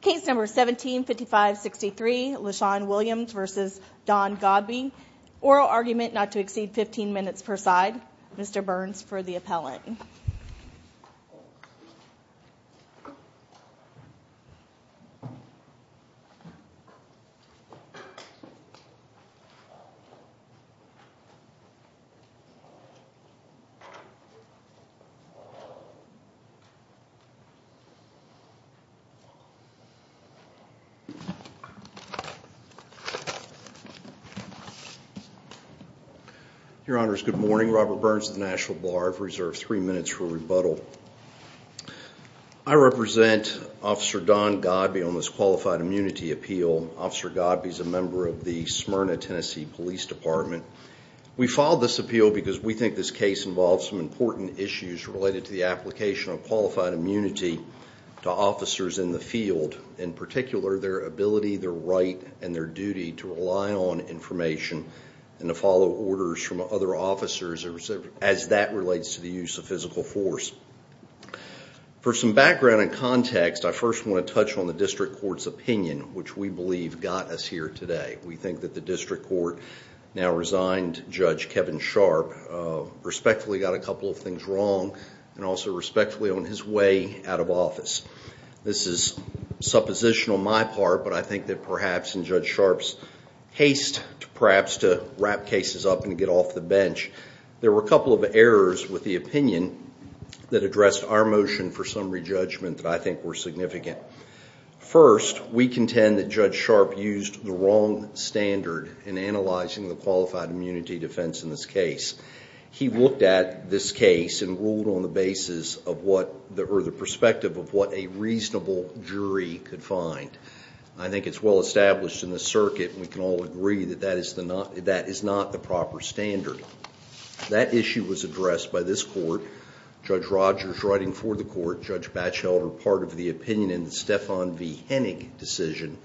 Case number 175563, Lashawn Williams v. Don Godby Oral argument not to exceed 15 minutes per side Mr. Burns for the appellant Your Honors, good morning. Robert Burns of the Nashville Bar. I've reserved three minutes for rebuttal. I represent Officer Don Godby on this qualified immunity appeal. Officer Godby is a member of the Smyrna, Tennessee Police Department. We filed this appeal because we think this case involves some important issues related to the application of qualified immunity to officers in the field. In particular, their ability, their right, and their duty to rely on information and to follow orders from other officers as that relates to the use of physical force. For some background and context, I first want to touch on the District Court's opinion, which we believe got us here today. We think that the District Court now resigned Judge Kevin Sharp, respectfully got a couple of things wrong, and also respectfully on his way out of office. This is supposition on my part, but I think that perhaps in Judge Sharp's haste to perhaps to wrap cases up and get off the bench, there were a couple of errors with the opinion that addressed our motion for summary judgment that I think were significant. First, we contend that Judge Sharp used the wrong standard in analyzing the qualified immunity defense in this case. He looked at this case and ruled on the basis of what, or the perspective of what a reasonable jury could find. I think it's well established in the circuit, and we can all agree that that is not the proper standard. That issue was addressed by this court. Judge Rogers writing for the court, Judge Batchelder, part of the opinion in the Stephan v. Hennig decision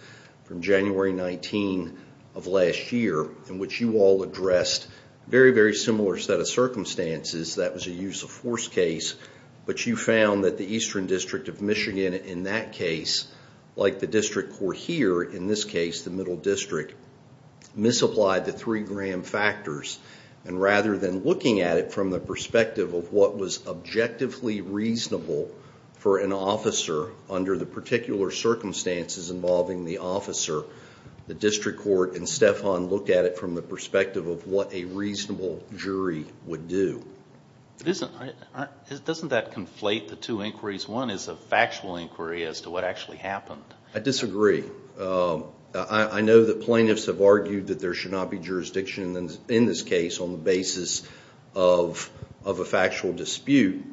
from January 19 of last year, in which you all addressed a very, very similar set of circumstances. That was a use of force case, but you found that the Eastern District of Michigan in that case, like the District Court here, in this case, the Middle District, misapplied the three Graham factors. Rather than looking at it from the perspective of what was objectively reasonable for an officer under the particular circumstances involving the officer, the District Court and Stephan looked at it from the perspective of what a reasonable jury would do. Doesn't that conflate the two inquiries? One is a factual inquiry as to what actually happened. I disagree. I know that plaintiffs have argued that there should not be jurisdiction in this case on the basis of a factual dispute.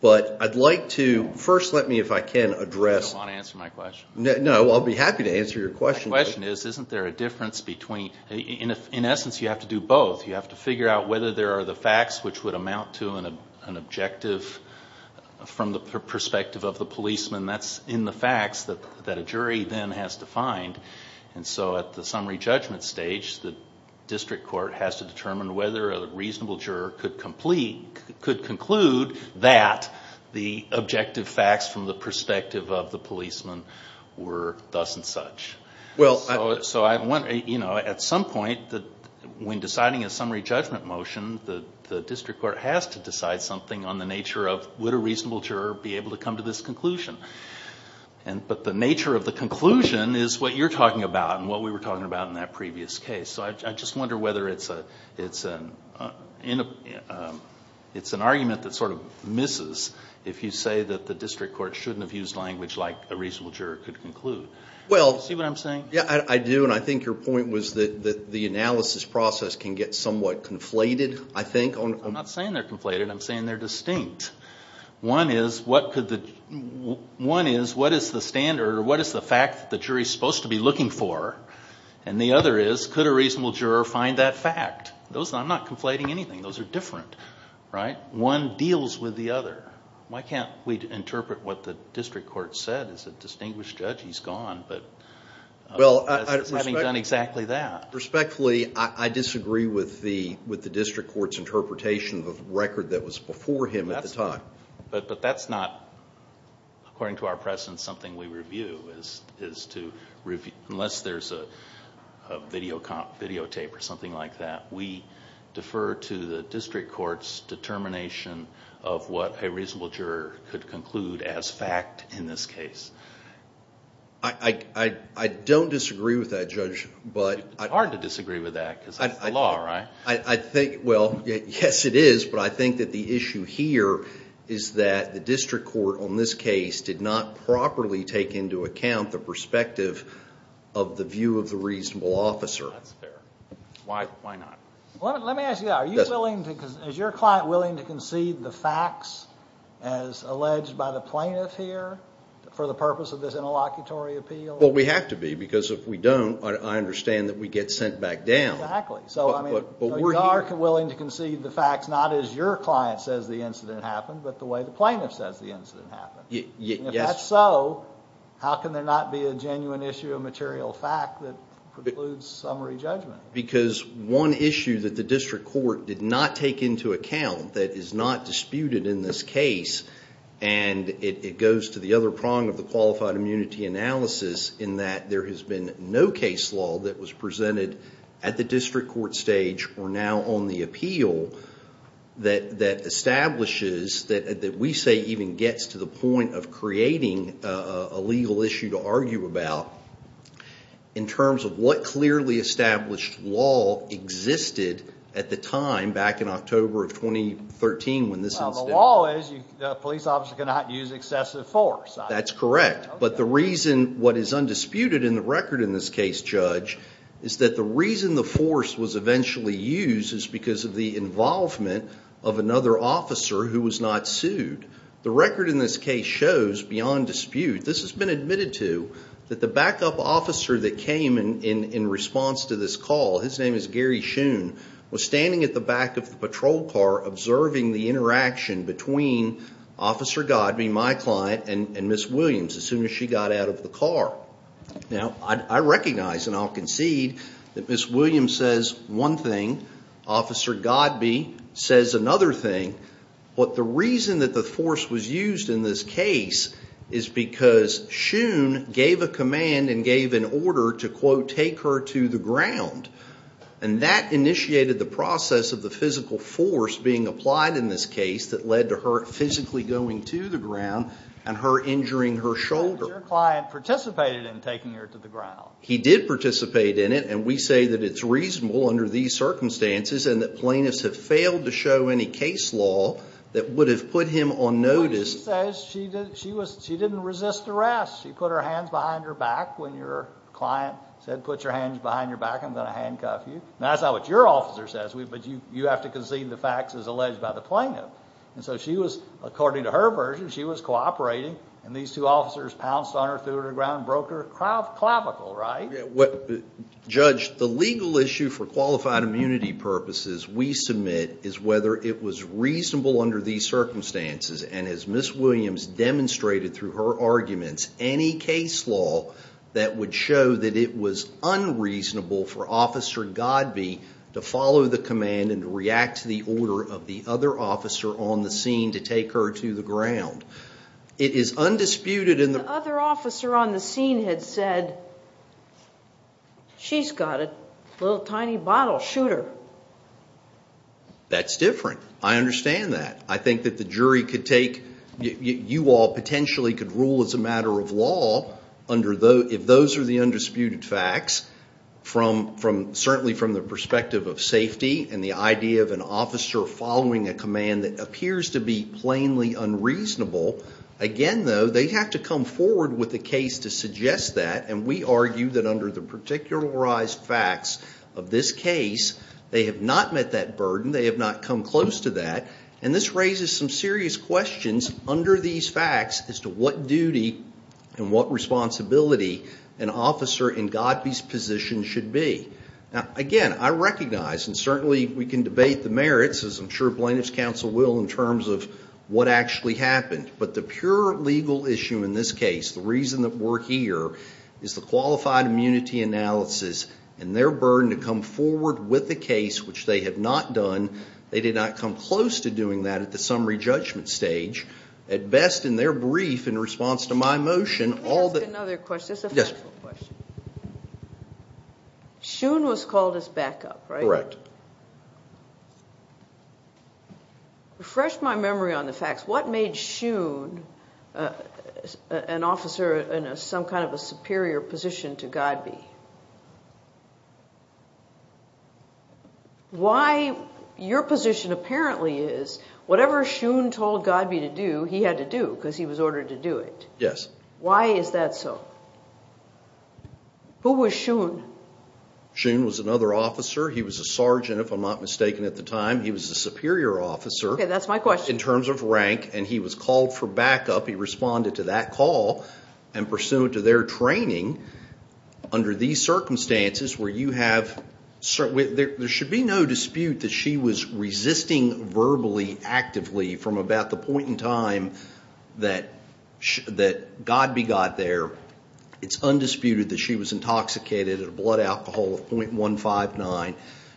But I'd like to first let me, if I can, address... You don't want to answer my question? No, I'll be happy to answer your question. My question is, isn't there a difference between... In essence, you have to do both. You have to figure out whether there are the facts which would amount to an objective from the perspective of the policeman. That's in the facts that a jury then has to find. And so at the summary judgment stage, the District Court has to determine whether a reasonable juror could conclude that the objective facts from the perspective of the policeman were thus and such. At some point, when deciding a summary judgment motion, the District Court has to decide something on the nature of, would a reasonable juror be able to come to this conclusion? But the nature of the conclusion is what you're talking about and what we were talking about in that previous case. So I just wonder whether it's an argument that sort of misses if you say that the District Court shouldn't have used language like a reasonable juror could conclude. See what I'm saying? Yeah, I do, and I think your point was that the analysis process can get somewhat conflated, I think. I'm not saying they're conflated. I'm saying they're distinct. One is, what is the standard, or what is the fact that the jury is supposed to be looking for? And the other is, could a reasonable juror find that fact? I'm not conflating anything. Those are different, right? One deals with the other. Why can't we interpret what the District Court said as a distinguished judge? He's gone, but having done exactly that. Respectfully, I disagree with the District Court's interpretation of the record that was before him at the time. But that's not, according to our presence, something we review, is to review. Unless there's a videotape or something like that, we defer to the District Court's determination of what a reasonable juror could conclude as fact in this case. I don't disagree with that, Judge, but... It's hard to disagree with that, because that's the law, right? I think, well, yes it is, but I think that the issue here is that the District Court on this case did not properly take into account the perspective of the view of the reasonable officer. That's fair. Why not? Let me ask you that. Is your client willing to concede the facts as alleged by the plaintiff here for the purpose of this interlocutory appeal? Well, we have to be, because if we don't, I understand that we get sent back down. Exactly. So you are willing to concede the facts not as your client says the incident happened, but the way the plaintiff says the incident happened. If that's so, how can there not be a genuine issue of material fact that precludes summary judgment? Because one issue that the District Court did not take into account that is not disputed in this case, and it goes to the other prong of the qualified immunity analysis, in that there has been no case law that was presented at the District Court stage or now on the appeal that establishes, that we say even gets to the point of creating a legal issue to argue about, in terms of what clearly established law existed at the time back in October of 2013 when this incident... Well, the law is a police officer cannot use excessive force. That's correct, but the reason what is undisputed in the record in this case, Judge, is that the reason the force was eventually used is because of the involvement of another officer who was not sued. The record in this case shows beyond dispute, this has been admitted to, that the backup officer that came in response to this call, his name is Gary Shoon, was standing at the back of the patrol car observing the interaction between Officer Godbee, my client, and Miss Williams as soon as she got out of the car. Now, I recognize, and I'll concede, that Miss Williams says one thing, Officer Godbee says another thing, but the reason that the force was used in this case is because Shoon gave a command and gave an order to, quote, take her to the ground, and that initiated the process of the physical force being applied in this case that led to her physically going to the ground and her injuring her shoulder. But your client participated in taking her to the ground. He did participate in it, and we say that it's reasonable under these circumstances and that plaintiffs have failed to show any case law that would have put him on notice. She didn't resist arrest. She put her hands behind her back when your client said, put your hands behind your back, I'm going to handcuff you. Now, that's not what your officer says, but you have to concede the facts as alleged by the plaintiff. And so she was, according to her version, she was cooperating, and these two officers pounced on her, threw her to the ground, and broke her clavicle, right? Judge, the legal issue for qualified immunity purposes we submit is whether it was reasonable under these circumstances, and as Ms. Williams demonstrated through her arguments, any case law that would show that it was unreasonable for Officer Godbee to follow the command and react to the order of the other officer on the scene to take her to the ground. It is undisputed in the... The other officer on the scene had said, she's got a little tiny bottle, shoot her. That's different. I understand that. I think that the jury could take, you all potentially could rule as a matter of law if those are the undisputed facts, and the idea of an officer following a command that appears to be plainly unreasonable, again though, they have to come forward with a case to suggest that, and we argue that under the particularized facts of this case, they have not met that burden, they have not come close to that, and this raises some serious questions under these facts as to what duty and what responsibility an officer in Godbee's position should be. Again, I recognize, and certainly we can debate the merits, as I'm sure plaintiff's counsel will, in terms of what actually happened, but the pure legal issue in this case, the reason that we're here, is the qualified immunity analysis and their burden to come forward with the case, which they have not done. They did not come close to doing that at the summary judgment stage. At best, in their brief, in response to my motion, all that... Can I ask another question? It's a factual question. Yes. Shoon was called as backup, right? Correct. Refresh my memory on the facts. What made Shoon an officer in some kind of a superior position to Godbee? Why, your position apparently is, whatever Shoon told Godbee to do, he had to do, because he was ordered to do it. Yes. Why is that so? Who was Shoon? Shoon was another officer. He was a sergeant, if I'm not mistaken, at the time. He was a superior officer. Okay, that's my question. In terms of rank, and he was called for backup. He responded to that call, and pursuant to their training, under these circumstances, where you have... There should be no dispute that she was resisting verbally, actively, from about the point in time that Godbee got there. It's undisputed that she was intoxicated at a blood alcohol of .159.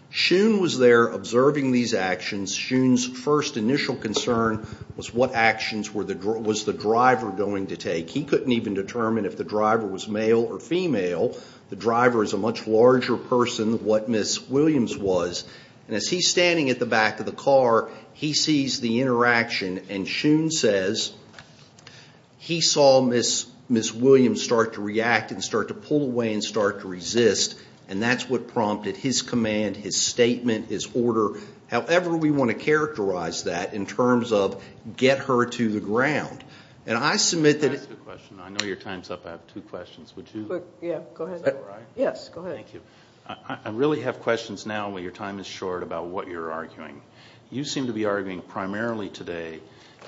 Shoon was there observing these actions. Shoon's first initial concern was what actions was the driver going to take. He couldn't even determine if the driver was male or female. The driver is a much larger person than what Miss Williams was. As he's standing at the back of the car, he sees the interaction, and Shoon says, I saw Miss Williams start to react and start to pull away and start to resist. That's what prompted his command, his statement, his order. However we want to characterize that in terms of get her to the ground. I submit that... I have a question. I know your time's up. I have two questions. Would you... Yeah, go ahead. Is that all right? Yes, go ahead. Thank you. I really have questions now when your time is short about what you're arguing. You seem to be arguing primarily today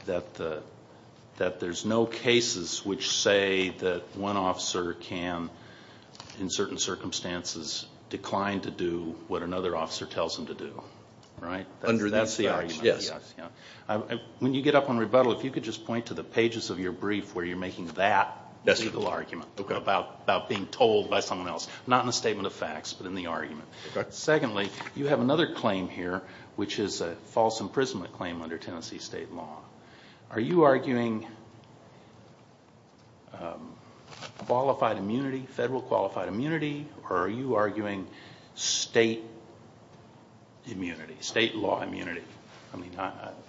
that there's no cases which say that one officer can, in certain circumstances, decline to do what another officer tells them to do, right? Under these facts, yes. When you get up on rebuttal, if you could just point to the pages of your brief where you're making that legal argument about being told by someone else, not in a statement of facts, but in the argument. Secondly, you have another claim here, which is a false imprisonment claim under Tennessee state law. Are you arguing qualified immunity, federal qualified immunity, or are you arguing state immunity, state law immunity?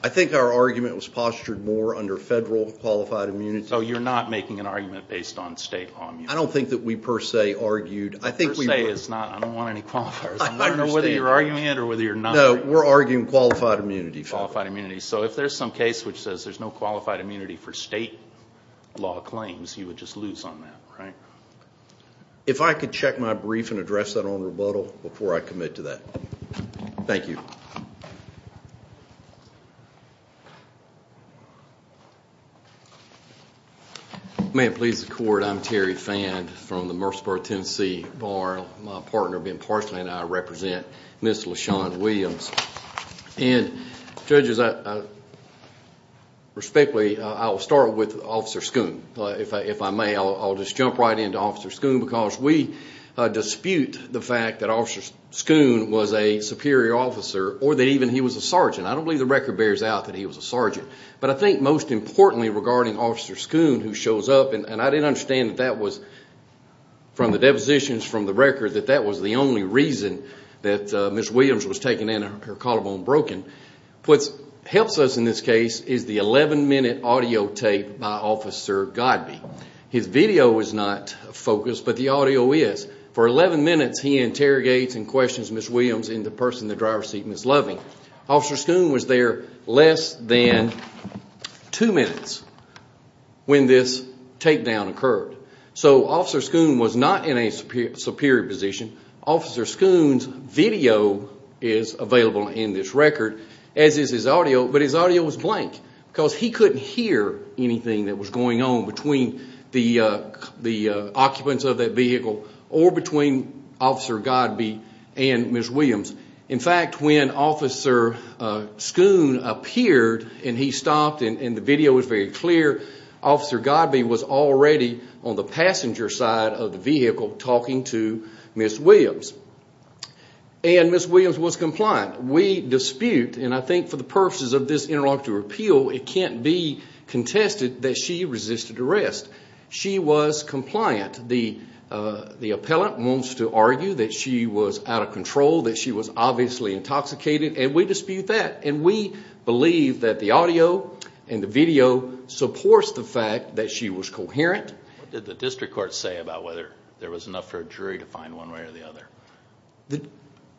I think our argument was postured more under federal qualified immunity. So you're not making an argument based on state law immunity? I don't think that we per se argued. I don't want any qualifiers. I don't know whether you're arguing it or whether you're not. No, we're arguing qualified immunity. Qualified immunity. So if there's some case which says there's no qualified immunity for state law claims, you would just lose on that, right? If I could check my brief and address that on rebuttal before I commit to that. Thank you. Thank you. May it please the court, I'm Terry Fann from the Murfreesboro, Tennessee Bar. My partner Ben Parsley and I represent Ms. LaShawn Williams. And, judges, respectfully, I'll start with Officer Schoon. If I may, I'll just jump right into Officer Schoon because we dispute the fact that I don't believe the record bears out that he was a sergeant. But I think most importantly regarding Officer Schoon, who shows up, and I didn't understand that that was, from the depositions from the record, that that was the only reason that Ms. Williams was taken in and her collarbone broken. What helps us in this case is the 11-minute audio tape by Officer Godby. His video is not focused, but the audio is. For 11 minutes, he interrogates and questions Ms. Williams and the person in the driver's seat, Ms. Loving. Officer Schoon was there less than two minutes when this takedown occurred. So Officer Schoon was not in a superior position. Officer Schoon's video is available in this record, as is his audio, but his audio was blank because he couldn't hear anything that was going on between the occupants of that vehicle or between Officer Godby and Ms. Williams. In fact, when Officer Schoon appeared and he stopped and the video was very clear, Officer Godby was already on the passenger side of the vehicle talking to Ms. Williams. And Ms. Williams was compliant. We dispute, and I think for the purposes of this interlocutor appeal, it can't be contested that she resisted arrest. She was compliant. The appellant wants to argue that she was out of control, that she was obviously intoxicated, and we dispute that. And we believe that the audio and the video supports the fact that she was coherent. What did the district court say about whether there was enough for a jury to find one way or the other?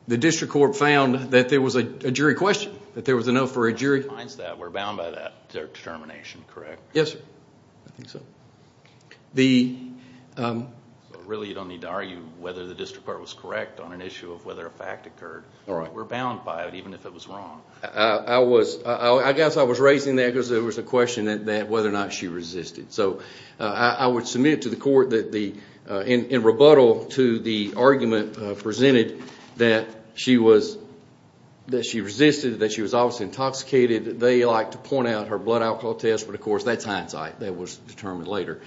The district court found that there was a jury question, that there was enough for a jury. The jury finds that. We're bound by that determination, correct? Yes, sir. I think so. Really, you don't need to argue whether the district court was correct on an issue of whether a fact occurred. We're bound by it, even if it was wrong. I guess I was raising that because there was a question that whether or not she resisted. So I would submit to the court that in rebuttal to the argument presented that she resisted, that she was obviously intoxicated, they like to point out her blood alcohol test. But, of course, that's hindsight. That was determined later.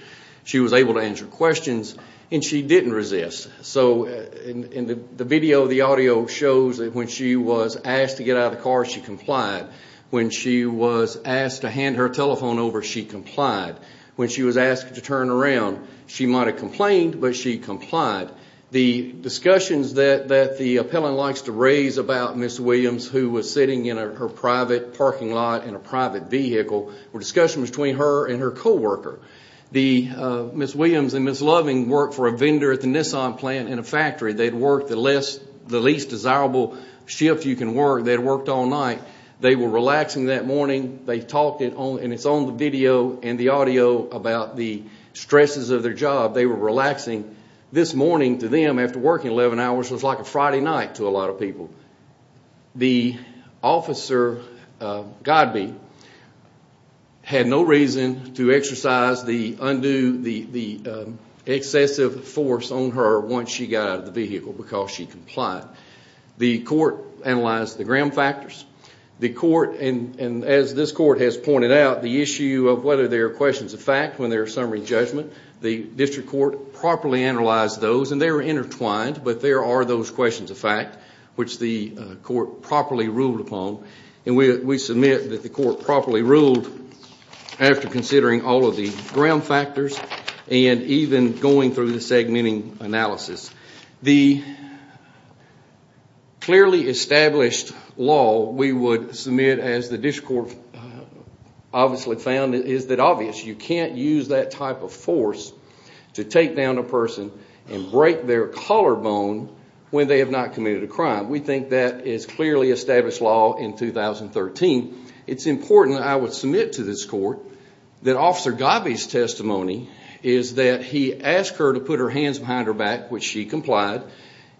She was able to answer questions, and she didn't resist. So in the video, the audio shows that when she was asked to get out of the car, she complied. When she was asked to hand her telephone over, she complied. When she was asked to turn around, she might have complained, but she complied. The discussions that the appellant likes to raise about Ms. Williams, who was sitting in her private parking lot in a private vehicle, were discussions between her and her co-worker. Ms. Williams and Ms. Loving worked for a vendor at the Nissan plant in a factory. They had worked the least desirable shift you can work. They had worked all night. They were relaxing that morning. They talked, and it's on the video and the audio, about the stresses of their job. They were relaxing. This morning, to them, after working 11 hours, was like a Friday night to a lot of people. The officer, Godbee, had no reason to exercise the excessive force on her once she got out of the vehicle because she complied. The court analyzed the gram factors. The court, and as this court has pointed out, the issue of whether there are questions of fact when there is summary judgment, the district court properly analyzed those, and they were intertwined, but there are those questions of fact, which the court properly ruled upon. We submit that the court properly ruled after considering all of the gram factors and even going through the segmenting analysis. The clearly established law we would submit, as the district court obviously found, is that obviously you can't use that type of force to take down a person and break their collarbone when they have not committed a crime. We think that is clearly established law in 2013. It's important that I would submit to this court that Officer Godbee's testimony is that he asked her to put her hands behind her back, which she complied,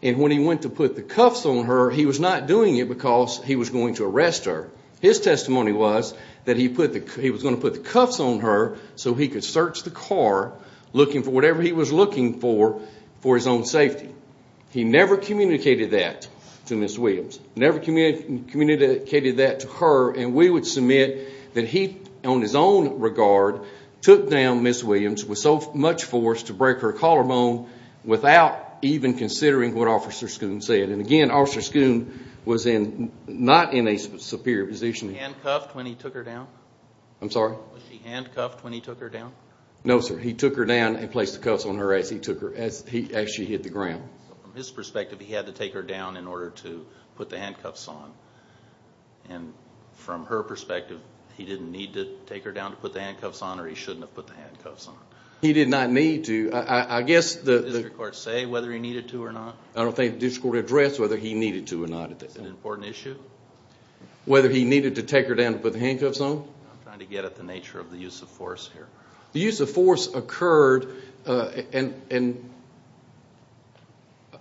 and when he went to put the cuffs on her, he was not doing it because he was going to arrest her. His testimony was that he was going to put the cuffs on her so he could search the car looking for whatever he was looking for for his own safety. He never communicated that to Ms. Williams, never communicated that to her, and we would submit that he, on his own regard, took down Ms. Williams with so much force to break her collarbone without even considering what Officer Schoon said. Again, Officer Schoon was not in a superior position. Was she handcuffed when he took her down? I'm sorry? Was she handcuffed when he took her down? No, sir. He took her down and placed the cuffs on her as she hit the ground. So from his perspective, he had to take her down in order to put the handcuffs on, and from her perspective, he didn't need to take her down to put the handcuffs on or he shouldn't have put the handcuffs on? He did not need to. Did the district court say whether he needed to or not? I don't think the district court addressed whether he needed to or not. Is it an important issue? Whether he needed to take her down to put the handcuffs on? I'm trying to get at the nature of the use of force here. The use of force occurred, and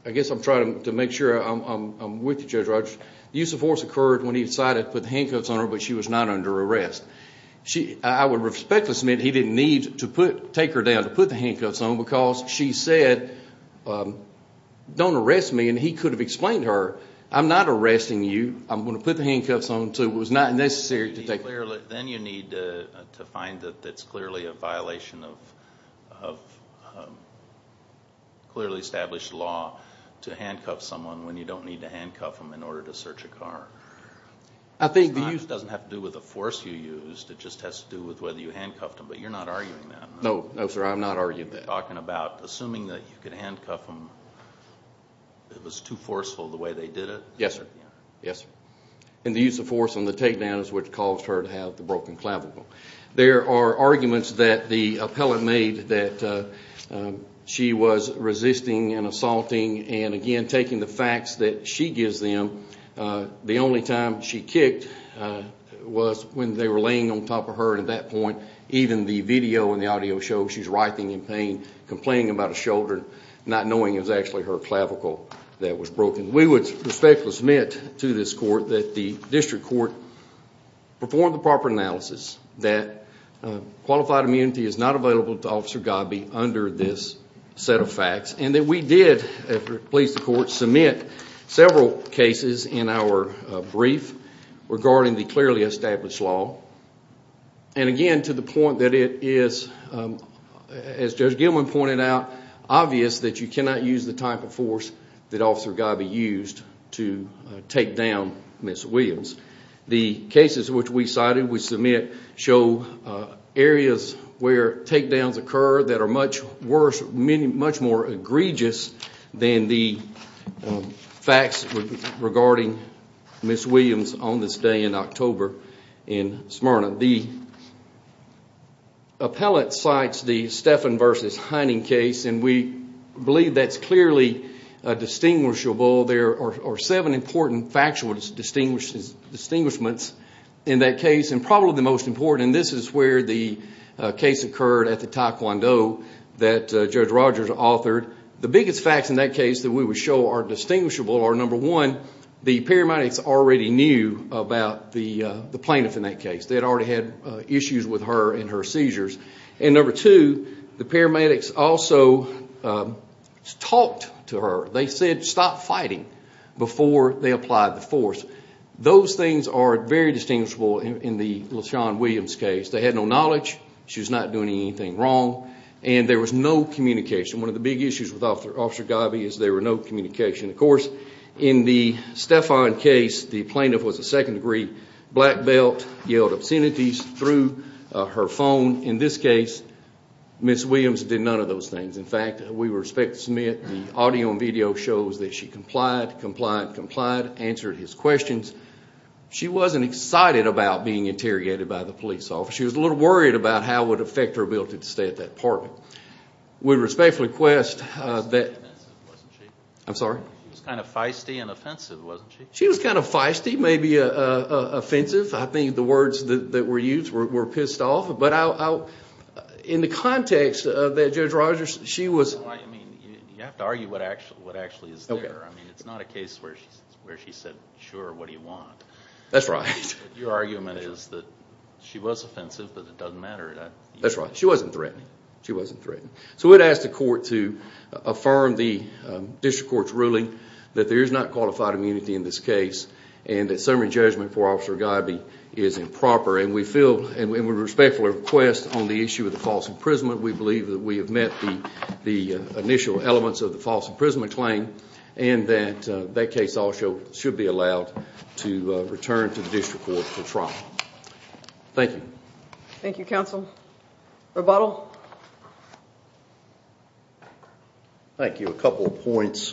I guess I'm trying to make sure I'm with you, Judge Rogers. The use of force occurred when he decided to put the handcuffs on her, but she was not under arrest. I would respectfully submit he didn't need to take her down to put the handcuffs on because she said, don't arrest me, and he could have explained to her, I'm not arresting you. I'm going to put the handcuffs on until it was not necessary to take her down. Then you need to find that it's clearly a violation of clearly established law to handcuff someone when you don't need to handcuff them in order to search a car. It doesn't have to do with the force you used. It just has to do with whether you handcuffed them, but you're not arguing that. No, sir, I'm not arguing that. You're talking about assuming that you could handcuff them. It was too forceful the way they did it? Yes, sir. The use of force on the takedown is what caused her to have the broken clavicle. There are arguments that the appellant made that she was resisting and assaulting and, again, taking the facts that she gives them. The only time she kicked was when they were laying on top of her, and at that point even the video and the audio show she's writhing in pain, complaining about a shoulder, not knowing it was actually her clavicle that was broken. We would respectfully submit to this court that the district court performed the proper analysis that qualified immunity is not available to Officer Gobby under this set of facts and that we did, if it pleases the court, submit several cases in our brief regarding the clearly established law, and, again, to the point that it is, as Judge Gilman pointed out, obvious that you cannot use the type of force that Officer Gobby used to takedown Ms. Williams. The cases which we cited we submit show areas where takedowns occur that are much worse, much more egregious than the facts regarding Ms. Williams on this day in October in Smyrna. The appellate cites the Steffen v. Hining case, and we believe that's clearly distinguishable. There are seven important factual distinguishments in that case, and this is where the case occurred at the Taekwondo that Judge Rogers authored. The biggest facts in that case that we would show are distinguishable are, number one, the paramedics already knew about the plaintiff in that case. They had already had issues with her and her seizures. And, number two, the paramedics also talked to her. They said, stop fighting, before they applied the force. Those things are very distinguishable in the LaShawn Williams case. They had no knowledge. She was not doing anything wrong. And there was no communication. One of the big issues with Officer Gobby is there was no communication. Of course, in the Steffen case, the plaintiff was a second degree black belt, yelled obscenities through her phone. In this case, Ms. Williams did none of those things. In fact, we would expect to submit the audio and video shows that she complied, complied, complied, answered his questions. She wasn't excited about being interrogated by the police officer. She was a little worried about how it would affect her ability to stay at that apartment. We respectfully request that... She was kind of feisty and offensive, wasn't she? She was kind of feisty and offensive, wasn't she? She was kind of feisty, maybe offensive. I think the words that were used were pissed off. But in the context of that, Judge Rogers, she was... I mean, you have to argue what actually is there. I mean, it's not a case where she said, sure, what do you want? That's right. Your argument is that she was offensive, but it doesn't matter. That's right. She wasn't threatening. She wasn't threatening. So we would ask the court to affirm the district court's ruling that there is not qualified immunity in this case and that summary judgment for Officer Gobby is improper. We respectfully request on the issue of the false imprisonment, we believe that we have met the initial elements of the false imprisonment claim. And that that case also should be allowed to return to the district court for trial. Thank you. Thank you, Counsel. Rebuttal? Thank you. A couple of points.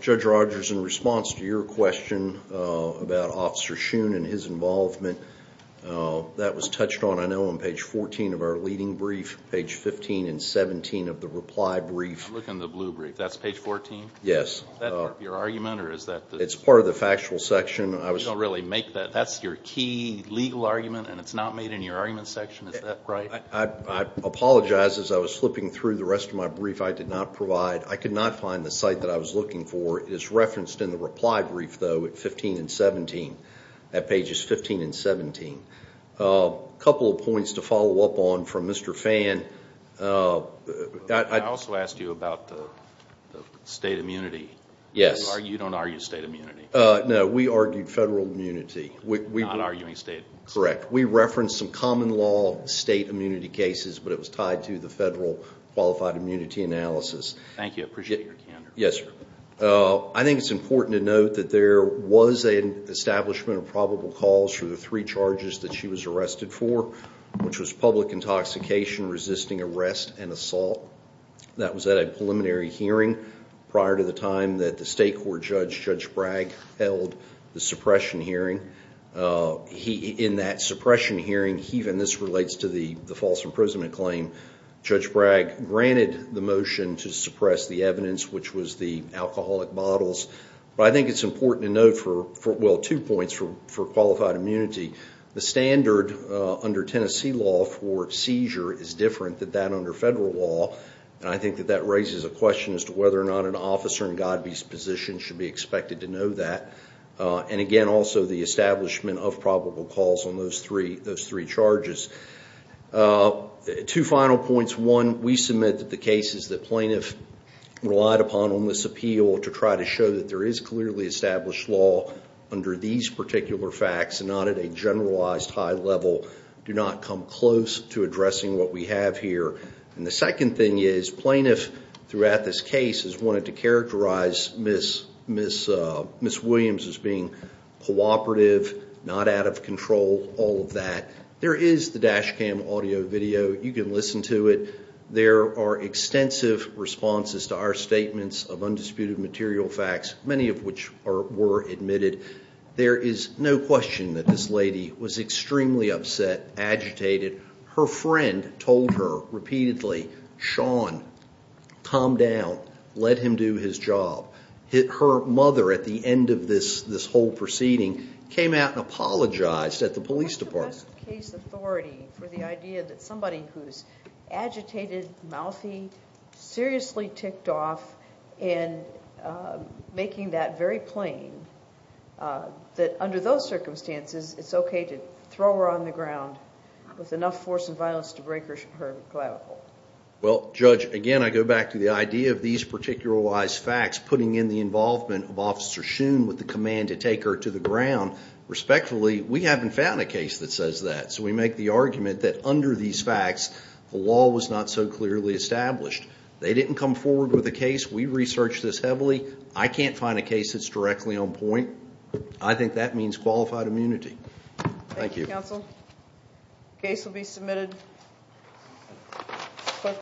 Judge Rogers, in response to your question about Officer Shoon and his involvement, that was touched on, I know, on page 14 of our leading brief, page 15 and 17 of the reply brief. I'm looking at the blue brief. That's page 14? Yes. Is that part of your argument, or is that the? It's part of the factual section. You don't really make that. That's your key legal argument, and it's not made in your argument section. Is that right? I apologize. As I was slipping through the rest of my brief, I did not provide. I could not find the site that I was looking for. It is referenced in the reply brief, though, at 15 and 17, at pages 15 and 17. A couple of points to follow up on from Mr. Phan. I also asked you about the state immunity. Yes. You don't argue state immunity. No, we argue federal immunity. Not arguing state immunity. Correct. We reference some common law state immunity cases, but it was tied to the federal qualified immunity analysis. Thank you. I appreciate your candor. Yes, sir. I think it's important to note that there was an establishment of probable cause for the three charges that she was arrested for, which was public intoxication, resisting arrest, and assault. That was at a preliminary hearing prior to the time that the state court judge, Judge Bragg, held the suppression hearing. In that suppression hearing, and this relates to the false imprisonment claim, Judge Bragg granted the motion to suppress the evidence, which was the alcoholic bottles. I think it's important to note two points for qualified immunity. The standard under Tennessee law for seizure is different than that under federal law, and I think that that raises a question as to whether or not an officer in Godby's position should be expected to know that. Again, also the establishment of probable cause on those three charges. Two final points. One, we submit that the cases that plaintiff relied upon on this appeal to try to show that there is clearly established law under these particular facts, and not at a generalized high level, do not come close to addressing what we have here. The second thing is plaintiff throughout this case has wanted to characterize Ms. Williams as being cooperative, not out of control, all of that. There is the dash cam audio video. You can listen to it. There are extensive responses to our statements of undisputed material facts, many of which were admitted. There is no question that this lady was extremely upset, agitated. Her friend told her repeatedly, Sean, calm down, let him do his job. Her mother at the end of this whole proceeding came out and apologized at the police department. There is no just case authority for the idea that somebody who is agitated, mouthy, seriously ticked off, and making that very plain, that under those circumstances, it's okay to throw her on the ground with enough force and violence to break her clavicle. Judge, again, I go back to the idea of these particularized facts, putting in the involvement of Officer Shoon with the command to take her to the ground. Respectfully, we haven't found a case that says that, so we make the argument that under these facts, the law was not so clearly established. They didn't come forward with a case. We researched this heavily. I can't find a case that's directly on point. I think that means qualified immunity. Thank you.